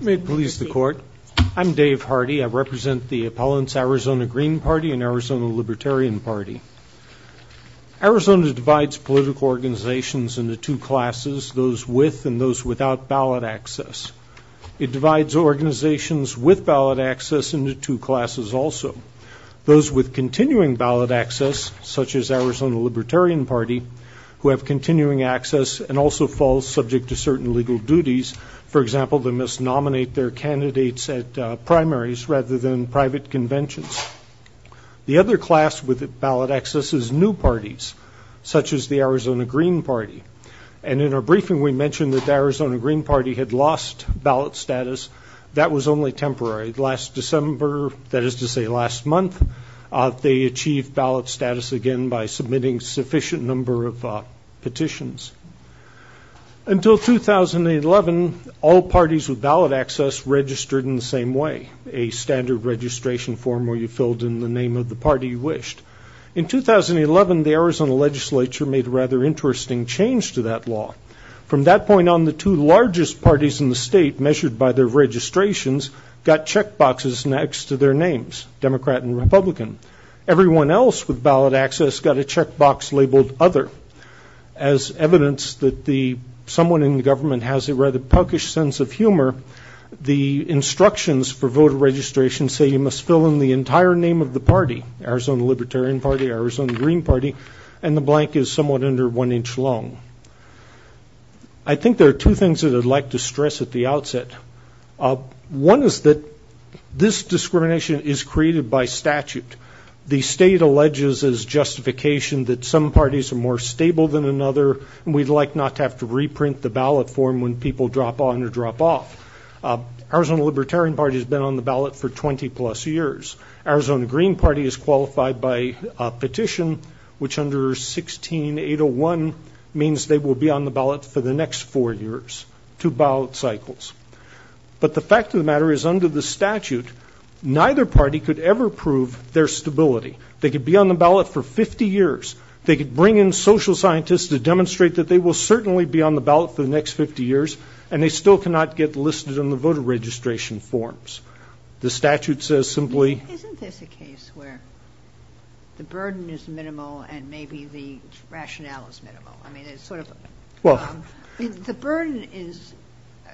May it please the court. I'm Dave Hardy. I represent the appellants Arizona Green Party and Arizona Libertarian Party. Arizona divides political organizations into two classes, those with and those without ballot access. It divides organizations with ballot access into two classes also. Those with continuing ballot access, such as Arizona Libertarian Party, who have continuing access and also fall subject to certain legal duties. For example, they must nominate their candidates at primaries rather than private conventions. The other class with ballot access is new parties, such as the Arizona Green Party. And in our briefing, we mentioned that the Arizona Green Party had lost ballot status. That was only temporary. Last December, that is to say last month, they achieved ballot status again by submitting sufficient number of petitions. Until 2011, all parties with ballot access registered in the same way, a standard registration form where you filled in the name of the party you wished. In 2011, the Arizona legislature made a rather interesting change to that law. From that point on, the two largest parties in the state, measured by their registrations, got check boxes next to their names, Democrat and Republican. Everyone else with ballot access got a check box labeled other. As evidence that the someone in the government has a rather puckish sense of humor, the instructions for voter registration say you must fill in the entire name of the party, Arizona Libertarian Party, Arizona Green Party, and the blank is somewhat under one inch long. I think there are two things that I'd like to stress at the outset. One is that this discrimination is created by statute. The state alleges as justification that some parties are more stable than another and we'd like not to have to reprint the ballot form when people drop on or drop off. Arizona Libertarian Party has been on the ballot for 20 plus years. Arizona Green Party is qualified by a petition, which under 16-801 means they will be on the ballot for the next four years, two ballot cycles. But the fact of the matter is under the statute, neither party could ever prove their stability. They could be on the ballot for 50 years. They could bring in social scientists to demonstrate that they will certainly be on the ballot for the next 50 years, and they still cannot get listed on the voter registration forms. The statute says simply... Isn't this a case where the burden is minimal and maybe the rationale is minimal? I mean, it's sort of... Well... I mean, the burden is...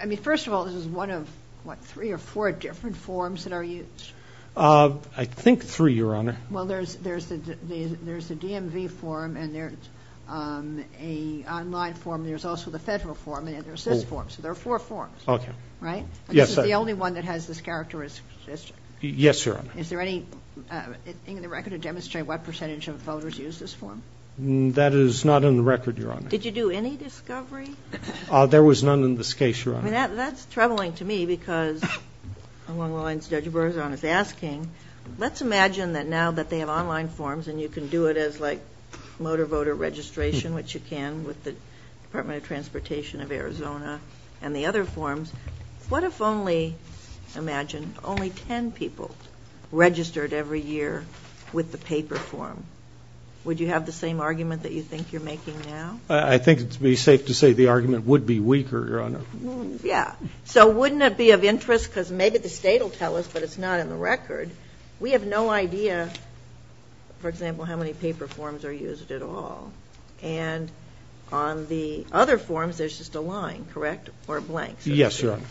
I mean, first of all, this is one of, what, three or four different forms that are used. I think three, Your Honor. Well, there's the DMV form and there's an online form. There's also the federal form and there's this form. So there are four forms. Okay. Right? Yes. And this is the only one that has this characteristic. Yes, Your Honor. Is there anything in the record to demonstrate what percentage of voters use this form? That is not in the record, Your Honor. Did you do any discovery? There was none in this case, Your Honor. I mean, that's troubling to me because, along the lines of what Judge Berzon is asking, let's imagine that now that they have online forms and you can do it as, like, motor voter registration, which you can with the Department of Transportation of Arizona and the other forms. What if only, imagine, only ten people registered every year with the paper form? Would you have the same argument that you think you're making now? I think it would be safe to say the argument would be weaker, Your Honor. Yeah. So wouldn't it be of interest? Because maybe the state will tell us, but it's not in the record. We have no idea, for example, how many paper forms are used at all. And on the other forms, there's just a line, correct? Or a blank. Yes, Your Honor.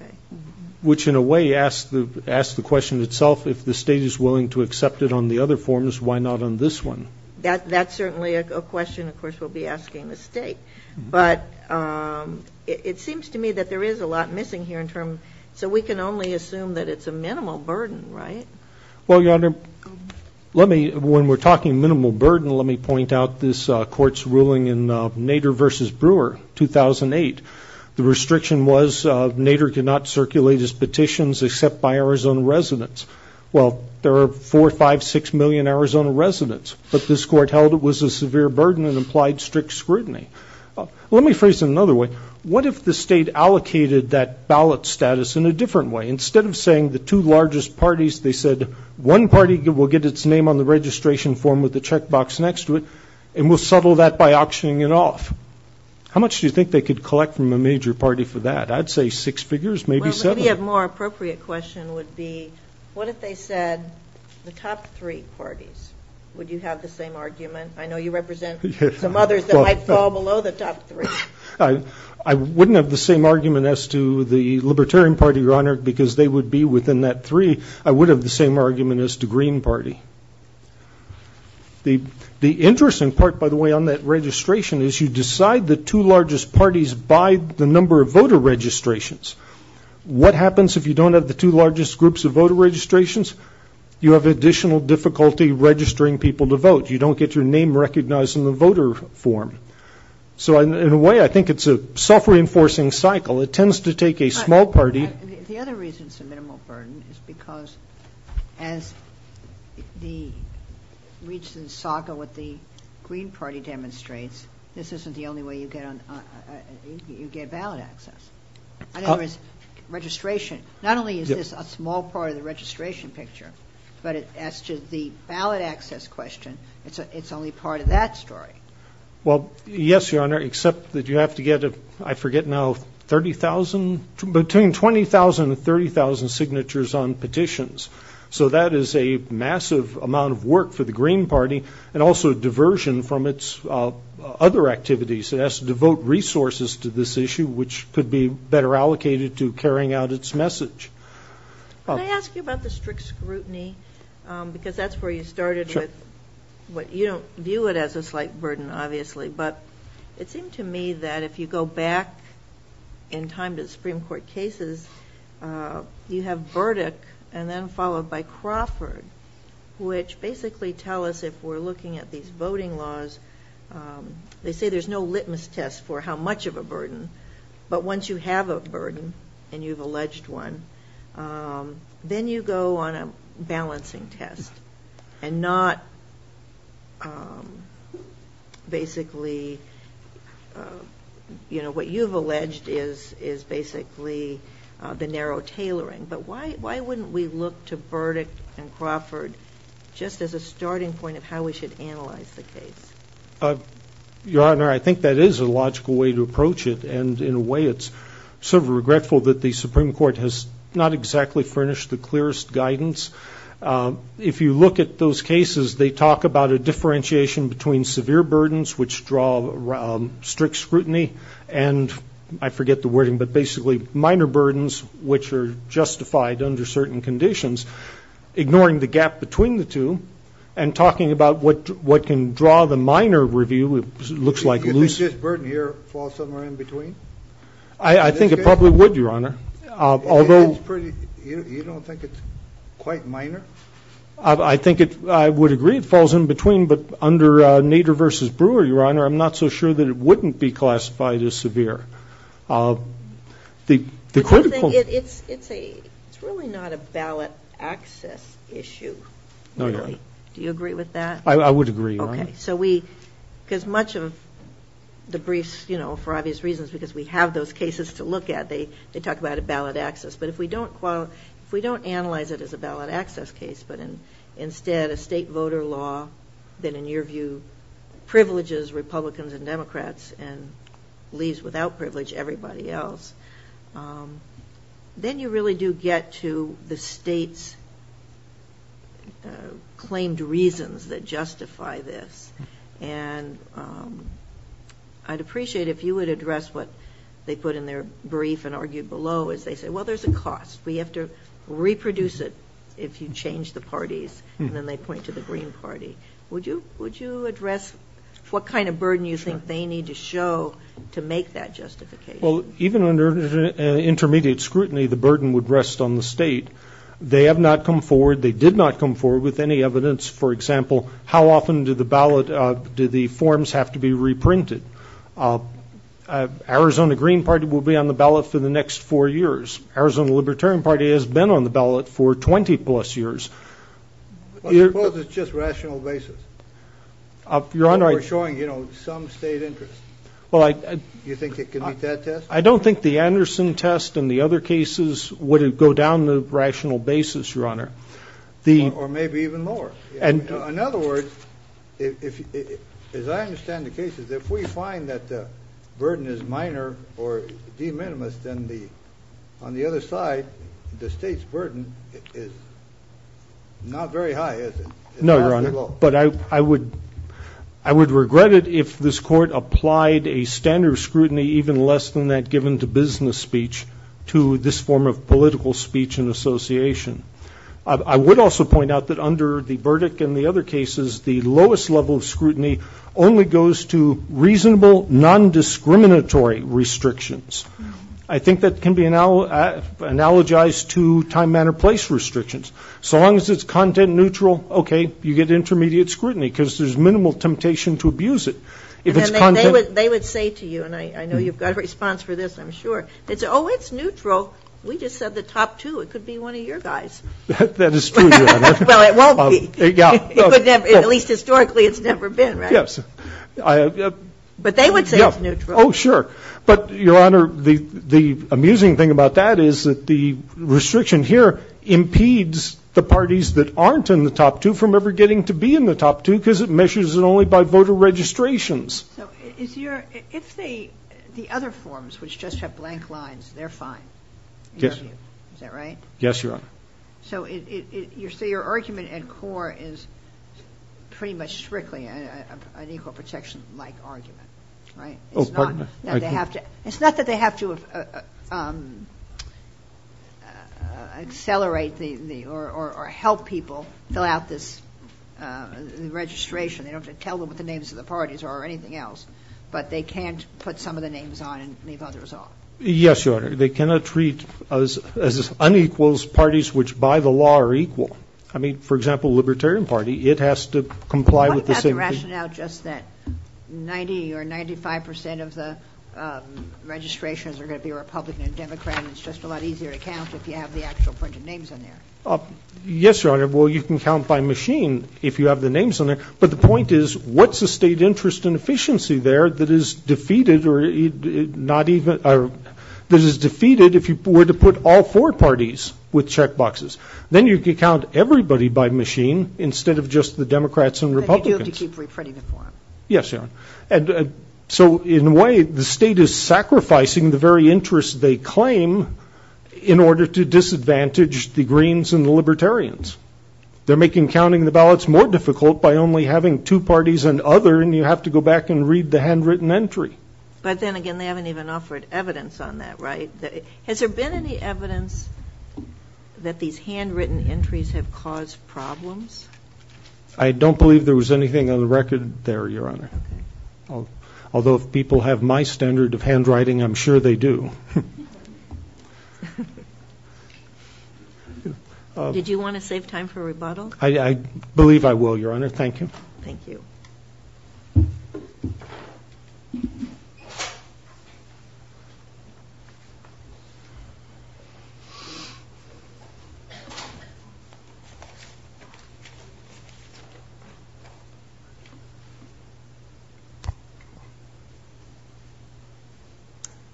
Okay. Which, in a way, asks the question itself, if the state is willing to accept it on the other forms, why not on this one? That's certainly a question, of course, we'll be asking the state. But it seems to me that there is a lot missing here in terms, so we can only assume that it's a minimal burden, right? Well, Your Honor, let me, when we're talking minimal burden, let me point out this court's ruling in Nader v. Brewer, 2008. The restriction was Nader could not circulate his petitions except by Arizona residents. Well, there are four, five, six million Arizona residents. But this court held it was a severe burden and implied strict scrutiny. Let me phrase it another way. What if the state allocated that ballot status in a different way? Instead of saying the two largest parties, they said, one party will get its name on the registration form with the checkbox next to it, and we'll settle that by auctioning it off. How much do you think they could collect from a major party for that? I'd say six figures, maybe seven. Maybe a more appropriate question would be, what if they said the top three parties? Would you have the same argument? I know you represent some others that might fall below the top three. I wouldn't have the same argument as to the Libertarian Party, Your Honor, because they would be within that three. I would have the same argument as the Green Party. The interesting part, by the way, on that registration is you decide the two largest parties by the number of voter registrations. What happens if you don't have the two largest groups of voter registrations? You have additional difficulty registering people to vote. You don't get your name recognized in the voter form. So, in a way, I think it's a self-reinforcing cycle. It tends to take a small party The other reason it's a minimal burden is because, as the recent saga with the Green Party demonstrates, this isn't the only way you get ballot access. Not only is this a small part of the registration picture, but as to the ballot access question, it's only part of that story. Well, yes, Your Honor, except that you have to get, I forget now, between 20,000 and 30,000 signatures on petitions. So that is a massive amount of work for the Green Party and also diversion from its other activities. It has to devote resources to this issue, which could be better allocated to carrying out its message. Can I ask you about the strict scrutiny? Because that's where you started with You don't view it as a slight burden, obviously, but it seemed to me that if you go back in time to the Supreme Court cases, you have Burdick and then followed by Crawford, which basically tell us, if we're looking at these voting laws, they say there's no litmus test for how much of a burden, but once you have a burden and you've alleged one, then you go on a balancing test and not basically, you know, what you've alleged is basically the narrow tailoring. But why wouldn't we look to Burdick and Crawford just as a starting point of how we should analyze the case? Your Honor, I think that is a logical way to approach it, and in a way it's sort of regretful that the Supreme Court has not exactly furnished the clearest guidance. If you look at those cases, they talk about a differentiation between severe burdens, which draw strict scrutiny, and, I forget the wording, but basically minor burdens which are justified under certain conditions, ignoring the gap between the two, and talking about what can draw the minor review, which looks like a loose... Do you think this burden here falls somewhere in between? I think it probably would, Your Honor, although... You don't think it's quite minor? I think I would agree it falls in between, but under Nader v. Brewer, Your Honor, I'm not so sure that it wouldn't be classified as severe. It's really not a ballot access issue, really. Do you agree with that? I would agree, Your Honor. Okay, so we, because much of the briefs, you know, for obvious reasons, because we have those cases to look at, they talk about a ballot access, but if we don't analyze it as a ballot access case, but instead a state voter law that, in your view, privileges Republicans and Democrats, and leaves without privilege everybody else, then you really do get to the state's claimed reasons that justify this. And I'd appreciate if you would address what they put in their brief and argued below, as they say, well, there's a cost. We have to reproduce it if you change the parties. And then they point to the Green Party. Would you address what kind of burden you think they need to show to make that justification? Well, even under intermediate scrutiny, the burden would rest on the state. They have not come forward, they did not come forward with any evidence, for example, how often do the ballot, do the forms have to be reprinted? Arizona Green Party will be on the ballot for the next four years. Arizona Libertarian Party has been on the ballot for 20 plus years. Well, suppose it's just rational basis. Your Honor. We're showing, you know, some state interest. You think it can beat that test? I don't think the Anderson test and the other cases would go down the rational basis, Your Honor. Or maybe even lower. In other words, as I understand the cases, if we find that the burden is minor or de minimis, then on the other side, the state's burden is not very high, is it? No, Your Honor. But I would regret it if this Court applied a standard of scrutiny even less than that given to business speech to this form of political speech and association. I would also point out that under the verdict and the other cases, the lowest level of scrutiny only goes to reasonable, non-discriminatory restrictions. I think that can be analogized to time, manner, place restrictions. So long as it's content neutral, okay, you get intermediate scrutiny, because there's minimal temptation to abuse it. They would say to you, and I know you've got a response for this, I'm sure, they'd say, oh, it's neutral. We just said the top two. It could be one of your guys. That is true, Your Honor. Well, it won't be. It could never. At least historically, it's never been, right? Yes. But they would say it's neutral. Oh, sure. But, Your Honor, the amusing thing about that is that the restriction here impedes the parties that aren't in the top two from ever getting to be in the top two, because it measures it only by voter registrations. So if the other forms, which just have blank lines, they're fine? Yes. Is that right? Yes, Your Honor. So your argument at core is pretty much strictly an equal protection-like argument, right? Oh, pardon me. It's not that they have to accelerate or help people fill out this registration. They don't have to tell them what the names of the parties are or anything else. But they can't put some of the names on and leave others off. Yes, Your Honor. They cannot treat as unequals parties which by the law are equal. I mean, for example, Libertarian Party, it has to comply with the same thing. What about the rationale just that 90 or 95 percent of the registrations are going to be Republican and Democrat, and it's just a lot easier to count if you have the actual printed names on there? Yes, Your Honor. Well, you can count by machine if you have the names on there. But the point is, what's the state interest and efficiency there that is defeated if you were to put all four parties with checkboxes? Then you can count everybody by machine instead of just the Democrats and Republicans. But you have to keep reprinting the form. Yes, Your Honor. So in a way, the state is sacrificing the very interests they claim in order to disadvantage the Greens and the Libertarians. They're making counting the ballots more difficult by only having two parties and other, and you have to go back and read the handwritten entry. But then again, they haven't even offered evidence on that, right? Has there been any evidence that these handwritten entries have caused problems? I don't believe there was anything on the record there, Your Honor. Although if people have my standard of handwriting, I'm sure they do. Did you want to save time for rebuttal? I believe I will, Your Honor. Thank you. Thank you.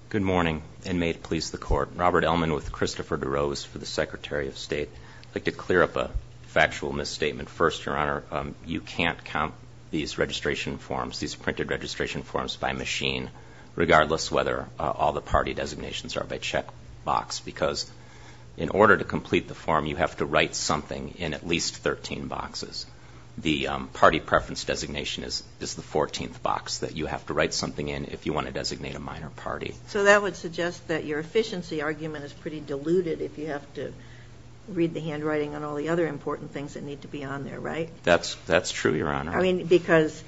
Good morning, and may it please the Court. Robert Ellman with Christopher DeRose for the Secretary of State. I'd like to clear up a factual misstatement. First, Your Honor, you can't count these registration forms, these printed registration forms by machine, regardless whether all the party designations are by checkbox, because in order to complete the form, you have to write something in at least 13 boxes. The party preference designation is the 14th box that you have to write something in if you want to designate a minor party. So that would suggest that your efficiency argument is pretty diluted if you have to read the handwriting on all the other important things that need to be on there, right? That's true, Your Honor. I mean, because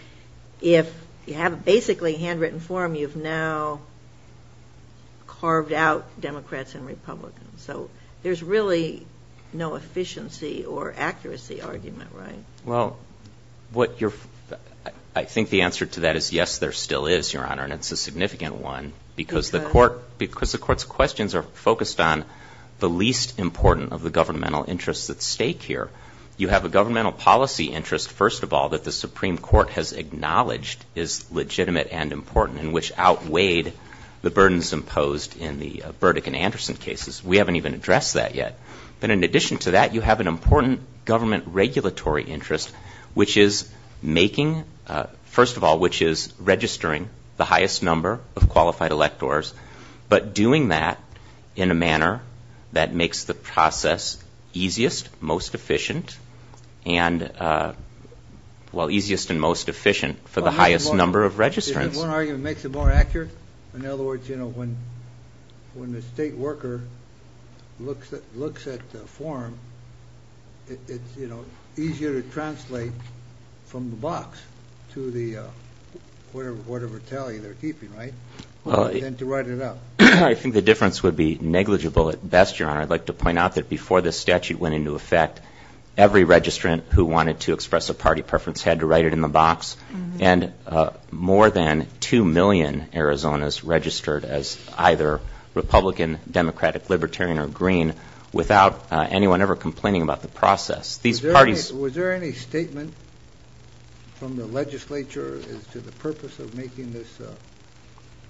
if you have basically a handwritten form, you've now carved out Democrats and Republicans. So there's really no efficiency or accuracy argument, right? Well, I think the answer to that is, yes, there still is, Your Honor, and it's a significant one, because the Court's questions are focused on the least important of the governmental interests at stake here. You have a governmental policy interest, first of all, that the Supreme Court has acknowledged is legitimate and important and which outweighed the burdens imposed in the Burdick and Anderson cases. We haven't even addressed that yet. But in addition to that, you have an important government regulatory interest, which is making, first of all, which is registering the highest number of qualified electors, but doing that in a manner that makes the process efficient and, well, easiest and most efficient for the highest number of registrants. One argument makes it more accurate. In other words, you know, when the state worker looks at the form, it's, you know, easier to translate from the box to the whatever tally they're keeping, right, than to write it up. Your Honor, I'd like to point out that before this statute went into effect, every registrant who wanted to express a party preference had to write it in the box. And more than 2 million Arizonans registered as either Republican, Democratic, Libertarian, or Green without anyone ever complaining about the process. These parties ---- Was there any statement from the legislature as to the purpose of making this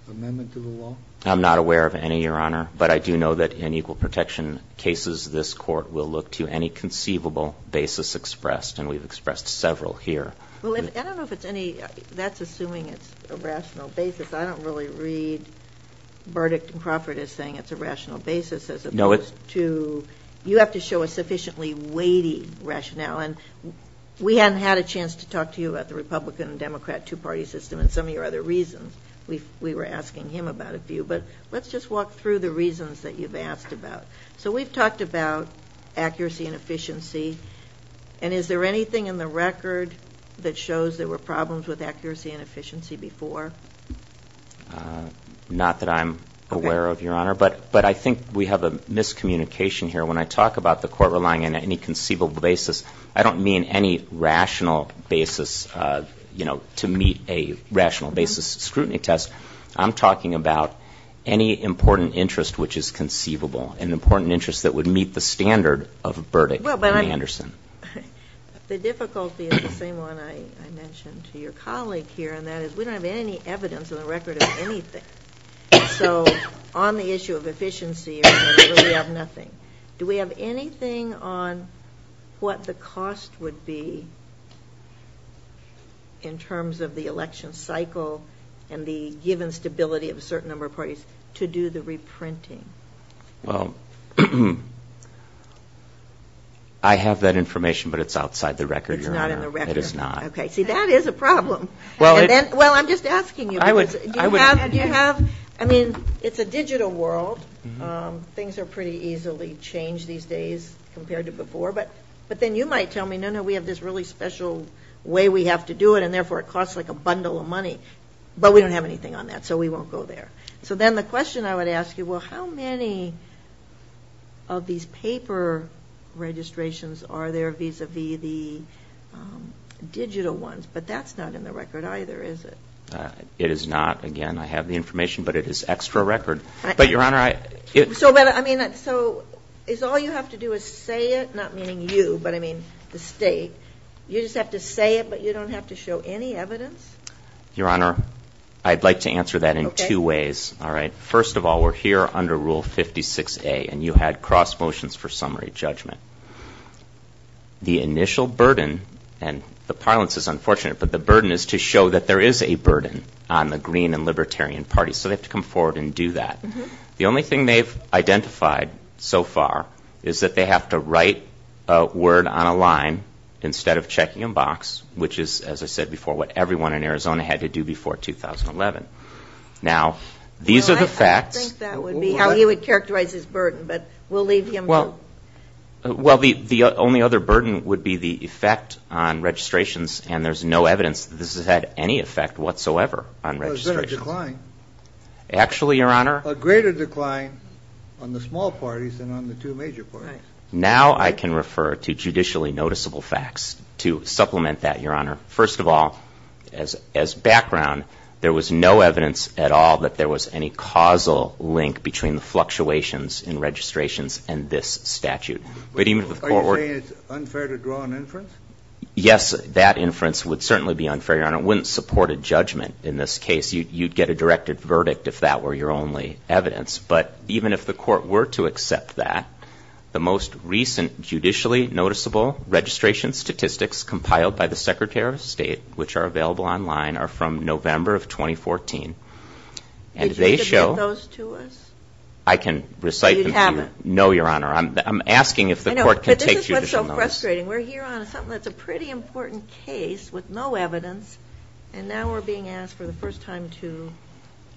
amendment to the law? I'm not aware of any, Your Honor. But I do know that in equal protection cases, this Court will look to any conceivable basis expressed. And we've expressed several here. Well, I don't know if it's any ---- That's assuming it's a rational basis. I don't really read Burdick and Crawford as saying it's a rational basis as opposed to ---- No, it's ---- You have to show a sufficiently weighty rationale. And we hadn't had a chance to talk to you about the Republican-Democrat two-party system and some of your other reasons. We were asking him about a few. But let's just walk through the reasons that you've asked about. So we've talked about accuracy and efficiency. And is there anything in the record that shows there were problems with accuracy and efficiency before? Not that I'm aware of, Your Honor. But I think we have a miscommunication here. When I talk about the Court relying on any conceivable basis, I don't mean any rational basis, you know, to meet a rational basis scrutiny test. I'm talking about any important interest which is conceivable, an important interest that would meet the standard of Burdick and Anderson. The difficulty is the same one I mentioned to your colleague here, and that is we don't have any evidence in the record of anything. So on the issue of efficiency, we have nothing. Do we have anything on what the cost would be in terms of the election cycle and the given stability of a certain number of parties to do the reprinting? Well, I have that information, but it's outside the record, Your Honor. It's not in the record. It is not. Okay. See, that is a problem. Well, I'm just asking you. I mean, it's a digital world. Things are pretty easily changed these days compared to before. But then you might tell me, no, no, we have this really special way we have to do it and, therefore, it costs like a bundle of money. But we don't have anything on that, so we won't go there. So then the question I would ask you, well, how many of these paper registrations are there vis-à-vis the digital ones? But that's not in the record either, is it? It is not. Again, I have the information, but it is extra record. But, Your Honor, I — So is all you have to do is say it, not meaning you, but I mean the State, you just have to say it, but you don't have to show any evidence? Your Honor, I'd like to answer that in two ways. All right. First of all, we're here under Rule 56A, and you had cross motions for summary judgment. The initial burden, and the parlance is unfortunate, but the burden is to show that there is a burden on the Green and Libertarian Party, so they have to come forward and do that. The only thing they've identified so far is that they have to write a word on a line instead of checking a box, which is, as I said before, what everyone in Arizona had to do before 2011. Now, these are the facts. Well, I think that would be how he would characterize his burden, but we'll leave him to — Well, the only other burden would be the effect on registrations, and there's no evidence that this has had any effect whatsoever on registrations. Well, is there a decline? Actually, Your Honor — A greater decline on the small parties than on the two major parties. Now I can refer to judicially noticeable facts to supplement that, Your Honor. First of all, as background, there was no evidence at all that there was any causal link between the fluctuations in registrations and this statute. Are you saying it's unfair to draw an inference? Yes, that inference would certainly be unfair, Your Honor. It wouldn't support a judgment in this case. You'd get a directed verdict if that were your only evidence. But even if the court were to accept that, the most recent judicially noticeable registration statistics compiled by the Secretary of State, which are available online, are from November of 2014. Did you submit those to us? I can recite them to you. You haven't. No, Your Honor. I'm asking if the court can take judicial notice. But this is what's so frustrating. We're here on something that's a pretty important case with no evidence, and now we're being asked for the first time to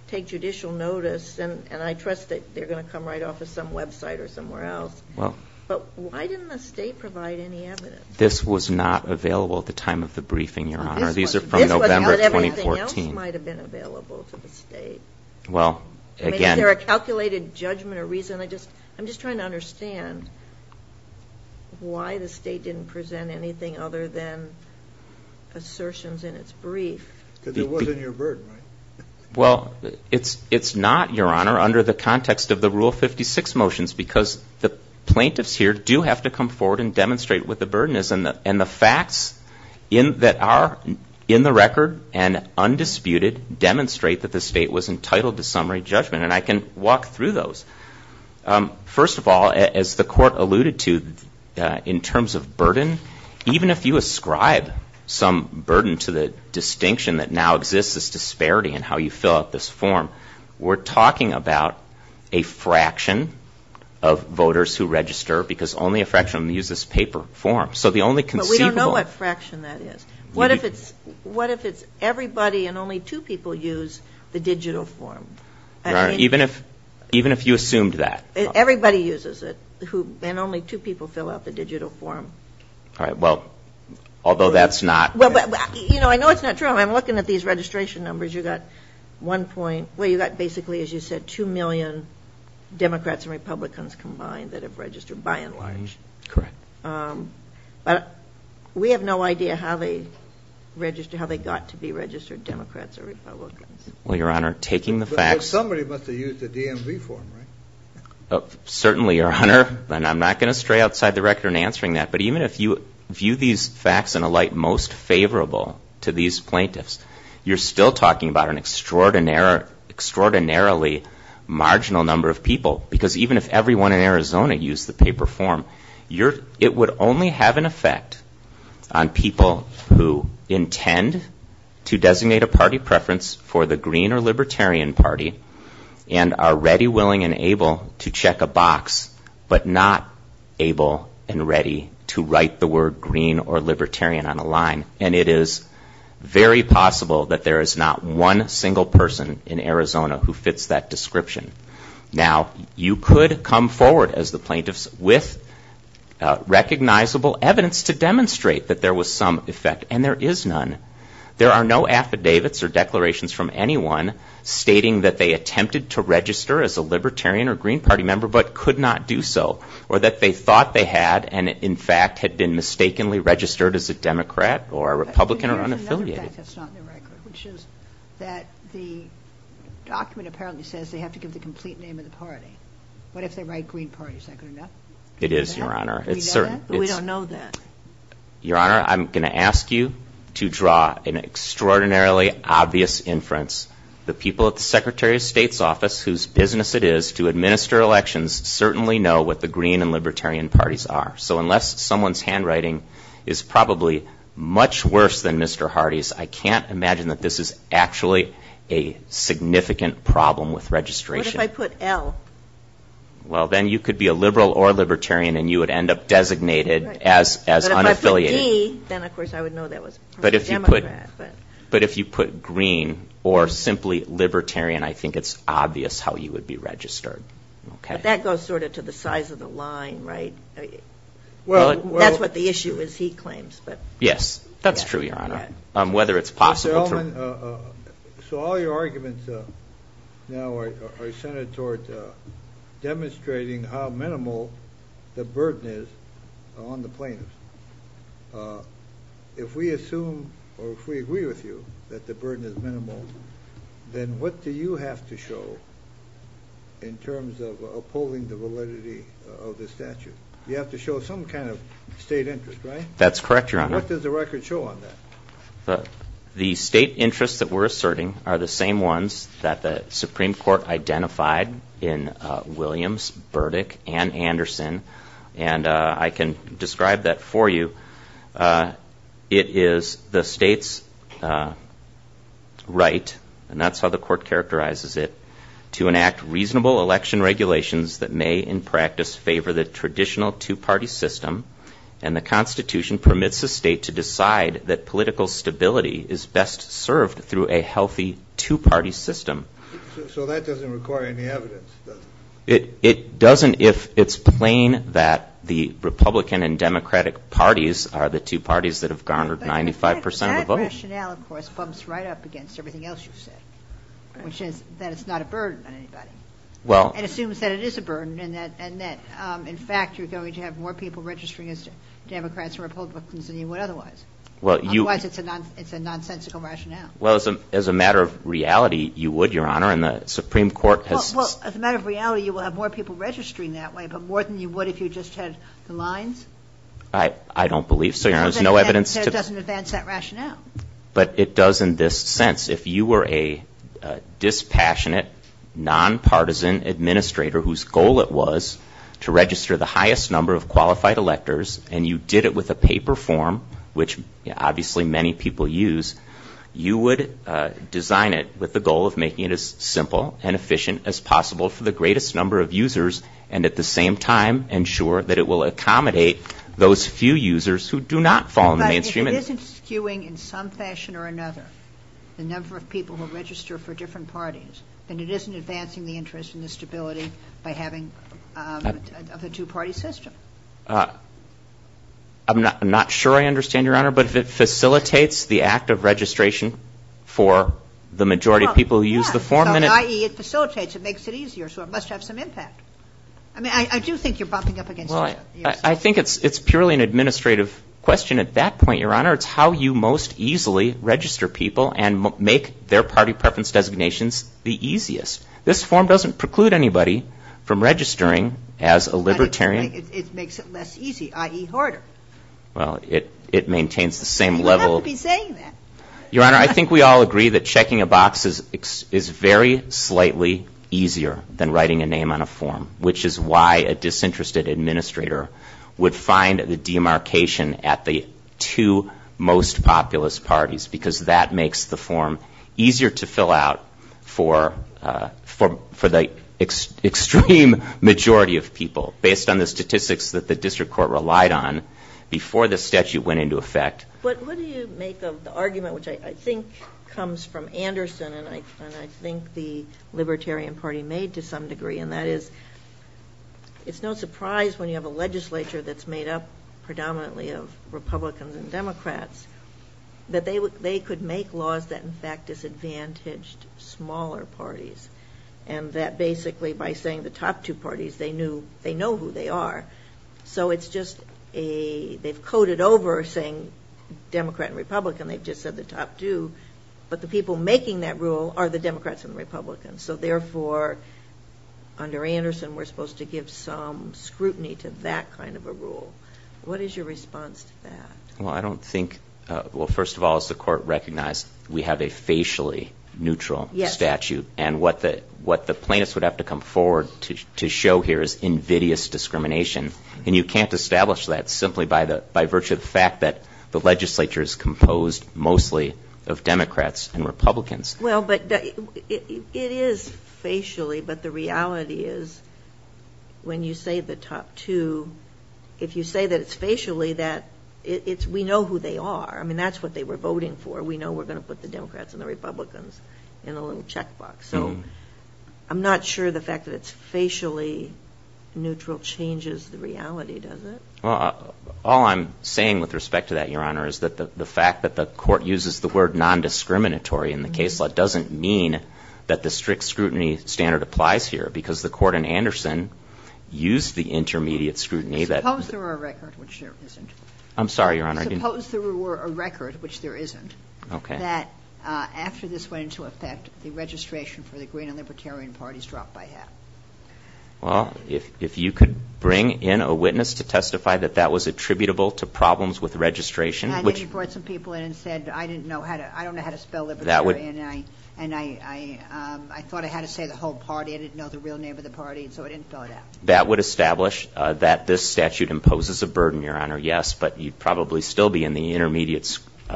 take judicial notice, and I trust that they're going to come right off of some website or somewhere else. But why didn't the State provide any evidence? This was not available at the time of the briefing, Your Honor. These are from November of 2014. This was, but everything else might have been available to the State. Well, again. Is there a calculated judgment or reason? I'm just trying to understand why the State didn't present anything other than assertions in its brief. Because it wasn't your burden, right? Well, it's not, Your Honor, under the context of the Rule 56 motions, because the plaintiffs here do have to come forward and demonstrate what the burden is. And the facts that are in the record and undisputed demonstrate that the State was entitled to summary judgment. And I can walk through those. First of all, as the court alluded to, in terms of burden, even if you ascribe some burden to the distinction that now exists as disparity in how you fill out this form, we're talking about a fraction of voters who register because only a fraction of them use this paper form. But we don't know what fraction that is. What if it's everybody and only two people use the digital form? Even if you assumed that. Everybody uses it. And only two people fill out the digital form. All right. Well, although that's not. You know, I know it's not true. I'm looking at these registration numbers. You've got one point where you've got basically, as you said, two million Democrats and Republicans combined that have registered by and large. Correct. But we have no idea how they got to be registered Democrats or Republicans. Well, Your Honor, taking the facts. Somebody must have used the DMV form, right? Certainly, Your Honor. And I'm not going to stray outside the record in answering that. But even if you view these facts in a light most favorable to these plaintiffs, you're still talking about an extraordinarily marginal number of people. Because even if everyone in Arizona used the paper form, it would only have an effect on people who intend to designate a party preference for the Green or Libertarian Party and are ready, willing, and able to check a box, but not able and ready to write the word Green or Libertarian on a line. And it is very possible that there is not one single person in Arizona who fits that description. Now, you could come forward as the plaintiffs with recognizable evidence to demonstrate that there was some effect, and there is none. There are no affidavits or declarations from anyone stating that they attempted to register as a Libertarian or Green Party member but could not do so, or that they thought they had and, in fact, had been mistakenly registered as a Democrat or a Republican or unaffiliated. There's another fact that's not in the record, which is that the document apparently says they have to give the complete name of the party. What if they write Green Party? Is that good enough? It is, Your Honor. We know that, but we don't know that. Your Honor, I'm going to ask you to draw an extraordinarily obvious inference. The people at the Secretary of State's office, whose business it is to administer elections, certainly know what the Green and Libertarian parties are. So unless someone's handwriting is probably much worse than Mr. Hardy's, I can't imagine that this is actually a significant problem with registration. What if I put L? Well, then you could be a Liberal or Libertarian, and you would end up designated as unaffiliated. But if I put D, then, of course, I would know that was a Democrat. But if you put Green or simply Libertarian, I think it's obvious how you would be registered. But that goes sort of to the size of the line, right? That's what the issue is, he claims. Yes, that's true, Your Honor. So all your arguments now are centered toward demonstrating how minimal the burden is on the plaintiffs. If we assume or if we agree with you that the burden is minimal, then what do you have to show in terms of upholding the validity of the statute? You have to show some kind of state interest, right? That's correct, Your Honor. What does the record show on that? The state interests that we're asserting are the same ones that the Supreme Court identified in Williams, Burdick, and Anderson. And I can describe that for you. It is the state's right, and that's how the Court characterizes it, to enact reasonable election regulations that may in practice favor the traditional two-party system, and the Constitution permits the state to decide that political stability is best served through a healthy two-party system. So that doesn't require any evidence, does it? It doesn't if it's plain that the Republican and Democratic parties are the two parties that have garnered 95 percent of the vote. That rationale, of course, bumps right up against everything else you've said, which is that it's not a burden on anybody. It assumes that it is a burden and that, in fact, you're going to have more people registering as Democrats and Republicans than you would otherwise. Otherwise, it's a nonsensical rationale. Well, as a matter of reality, you would, Your Honor, and the Supreme Court has ---- Well, as a matter of reality, you will have more people registering that way, but more than you would if you just had the lines? I don't believe so, Your Honor. It doesn't advance that rationale. But it does in this sense. If you were a dispassionate, nonpartisan administrator whose goal it was to register the highest number of qualified electors, and you did it with a paper form, which obviously many people use, you would design it with the goal of making it as simple and efficient as possible for the greatest number of users and at the same time ensure that it will accommodate those few users who do not fall in the mainstream. But if it isn't skewing in some fashion or another the number of people who register for different parties, then it isn't advancing the interest and the stability by having a two-party system. I'm not sure I understand, Your Honor, but if it facilitates the act of registration for the majority of people who use the form ---- It facilitates, it makes it easier, so it must have some impact. I do think you're bumping up against each other. I think it's purely an administrative question at that point, Your Honor. It's how you most easily register people and make their party preference designations the easiest. This form doesn't preclude anybody from registering as a libertarian. It makes it less easy, i.e., harder. Well, it maintains the same level of ---- You don't have to be saying that. Your Honor, I think we all agree that checking a box is very slightly easier than writing a name on a form, which is why a disinterested administrator would find the demarcation at the two most populous parties because that makes the form easier to fill out for the extreme majority of people, based on the statistics that the district court relied on before the statute went into effect. But what do you make of the argument, which I think comes from Anderson and I think the Libertarian Party made to some degree, and that is it's no surprise when you have a legislature that's made up predominantly of Republicans and Democrats that they could make laws that in fact disadvantaged smaller parties and that basically by saying the top two parties, they know who they are. So it's just they've coded over saying Democrat and Republican. They've just said the top two. But the people making that rule are the Democrats and Republicans. So therefore, under Anderson, we're supposed to give some scrutiny to that kind of a rule. What is your response to that? Well, I don't think ---- Well, first of all, as the Court recognized, we have a facially neutral statute. And what the plaintiffs would have to come forward to show here is invidious discrimination. And you can't establish that simply by virtue of the fact that the legislature is composed mostly of Democrats and Republicans. Well, but it is facially, but the reality is when you say the top two, if you say that it's facially, that it's we know who they are. I mean, that's what they were voting for. We know we're going to put the Democrats and the Republicans in a little checkbox. So I'm not sure the fact that it's facially neutral changes the reality, does it? Well, all I'm saying with respect to that, Your Honor, is that the fact that the Court uses the word nondiscriminatory in the case law doesn't mean that the strict scrutiny standard applies here because the Court in Anderson used the intermediate scrutiny that ---- Suppose there were a record which there isn't. I'm sorry, Your Honor. Suppose there were a record which there isn't that after this went into effect, the registration for the Green and Libertarian parties dropped by half. Well, if you could bring in a witness to testify that that was attributable to problems with registration, which ---- And then you brought some people in and said I don't know how to spell Libertarian and I thought I had to say the whole party. I didn't know the real name of the party, and so it didn't fill it out. That would establish that this statute imposes a burden, Your Honor, yes, but you'd probably still be in the intermediate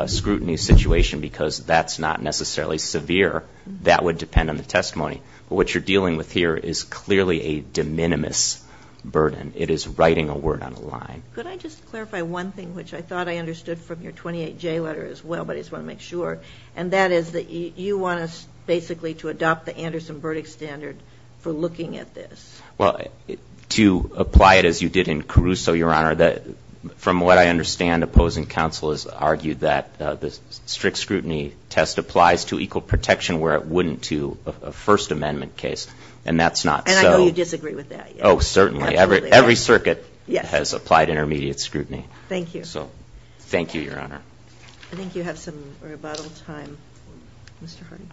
scrutiny situation because that's not necessarily severe. That would depend on the testimony. But what you're dealing with here is clearly a de minimis burden. It is writing a word on a line. Could I just clarify one thing which I thought I understood from your 28J letter as well, but I just want to make sure, and that is that you want us basically to adopt the Anderson verdict standard for looking at this. Well, to apply it as you did in Caruso, Your Honor, from what I understand opposing counsel has argued that the strict scrutiny test applies to equal protection where it wouldn't to a First Amendment case, and that's not so. And I know you disagree with that. Oh, certainly. Every circuit has applied intermediate scrutiny. Thank you. So thank you, Your Honor. I think you have some rebuttal time. Mr. Hardy.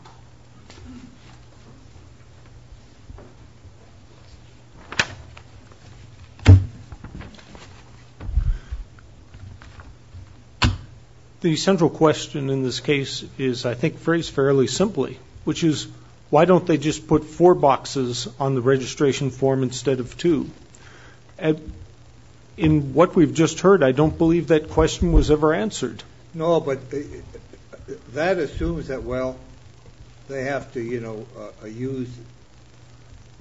The central question in this case is, I think, phrased fairly simply, which is why don't they just put four boxes on the registration form instead of two? In what we've just heard, I don't believe that question was ever answered. No, but that assumes that, well, they have to, you know, use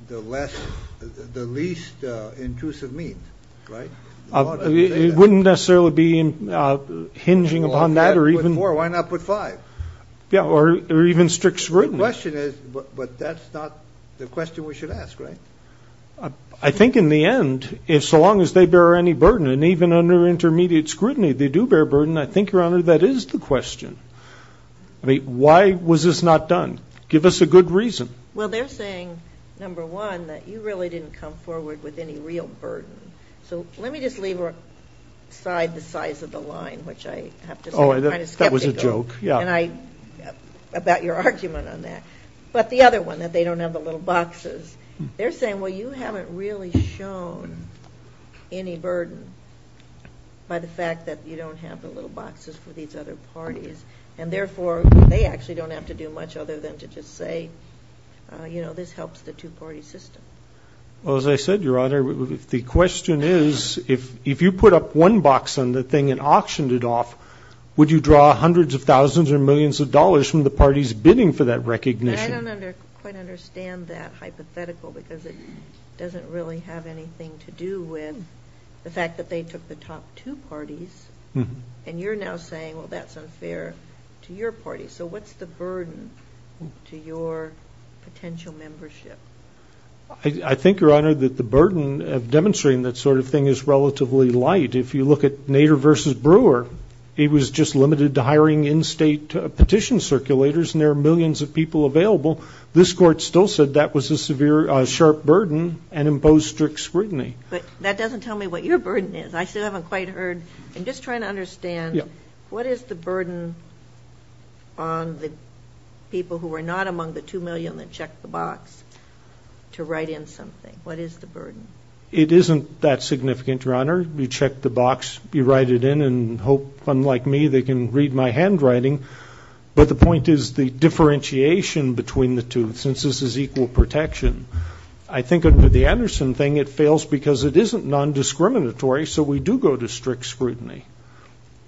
the least intrusive means, right? It wouldn't necessarily be hinging upon that or even. Why not put five? Yeah, or even strict scrutiny. The question is, but that's not the question we should ask, right? I think in the end, if so long as they bear any burden, and even under intermediate scrutiny they do bear burden, I think, Your Honor, that is the question. I mean, why was this not done? Give us a good reason. Well, they're saying, number one, that you really didn't come forward with any real burden. So let me just leave aside the size of the line, which I have to say I'm kind of skeptical. Oh, that was a joke, yeah. About your argument on that. But the other one, that they don't have the little boxes. They're saying, well, you haven't really shown any burden by the fact that you don't have the little boxes for these other parties. And, therefore, they actually don't have to do much other than to just say, you know, this helps the two-party system. Well, as I said, Your Honor, the question is, if you put up one box on the thing and auctioned it off, would you draw hundreds of thousands or millions of dollars from the party's bidding for that recognition? I don't quite understand that hypothetical because it doesn't really have anything to do with the fact that they took the top two parties. And you're now saying, well, that's unfair to your party. So what's the burden to your potential membership? I think, Your Honor, that the burden of demonstrating that sort of thing is relatively light. If you look at Nader v. Brewer, he was just limited to hiring in-state petition circulators, and there are millions of people available. This Court still said that was a severe, sharp burden and imposed strict scrutiny. But that doesn't tell me what your burden is. I still haven't quite heard. I'm just trying to understand what is the burden on the people who are not among the 2 million that checked the box to write in something? What is the burden? It isn't that significant, Your Honor. You check the box, you write it in, and hope, unlike me, they can read my handwriting. But the point is the differentiation between the two, since this is equal protection. I think under the Anderson thing, it fails because it isn't non-discriminatory, so we do go to strict scrutiny.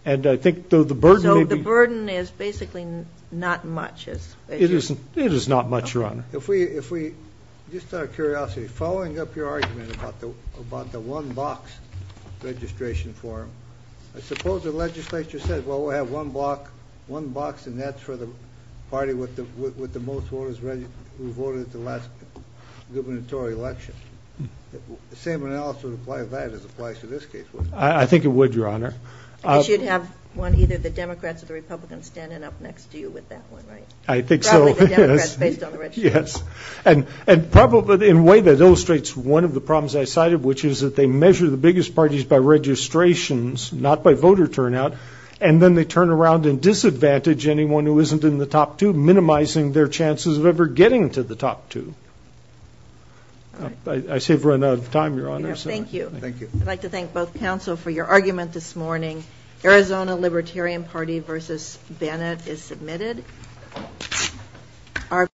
And I think, though, the burden may be... So the burden is basically not much. It is not much, Your Honor. Just out of curiosity, following up your argument about the one-box registration form, I suppose the legislature said, well, we'll have one box, and that's for the party with the most voters who voted at the last gubernatorial election. The same analysis would apply to that as it applies to this case, wouldn't it? I think it would, Your Honor. I guess you'd have either the Democrats or the Republicans standing up next to you with that one, right? I think so, yes. Probably the Democrats, based on the registration. And probably in a way that illustrates one of the problems I cited, which is that they measure the biggest parties by registrations, not by voter turnout, and then they turn around and disadvantage anyone who isn't in the top two, minimizing their chances of ever getting to the top two. I see we've run out of time, Your Honor. Thank you. Thank you. I'd like to thank both counsel for your argument this morning. Arizona Libertarian Party v. Bennett is submitted. Thank you.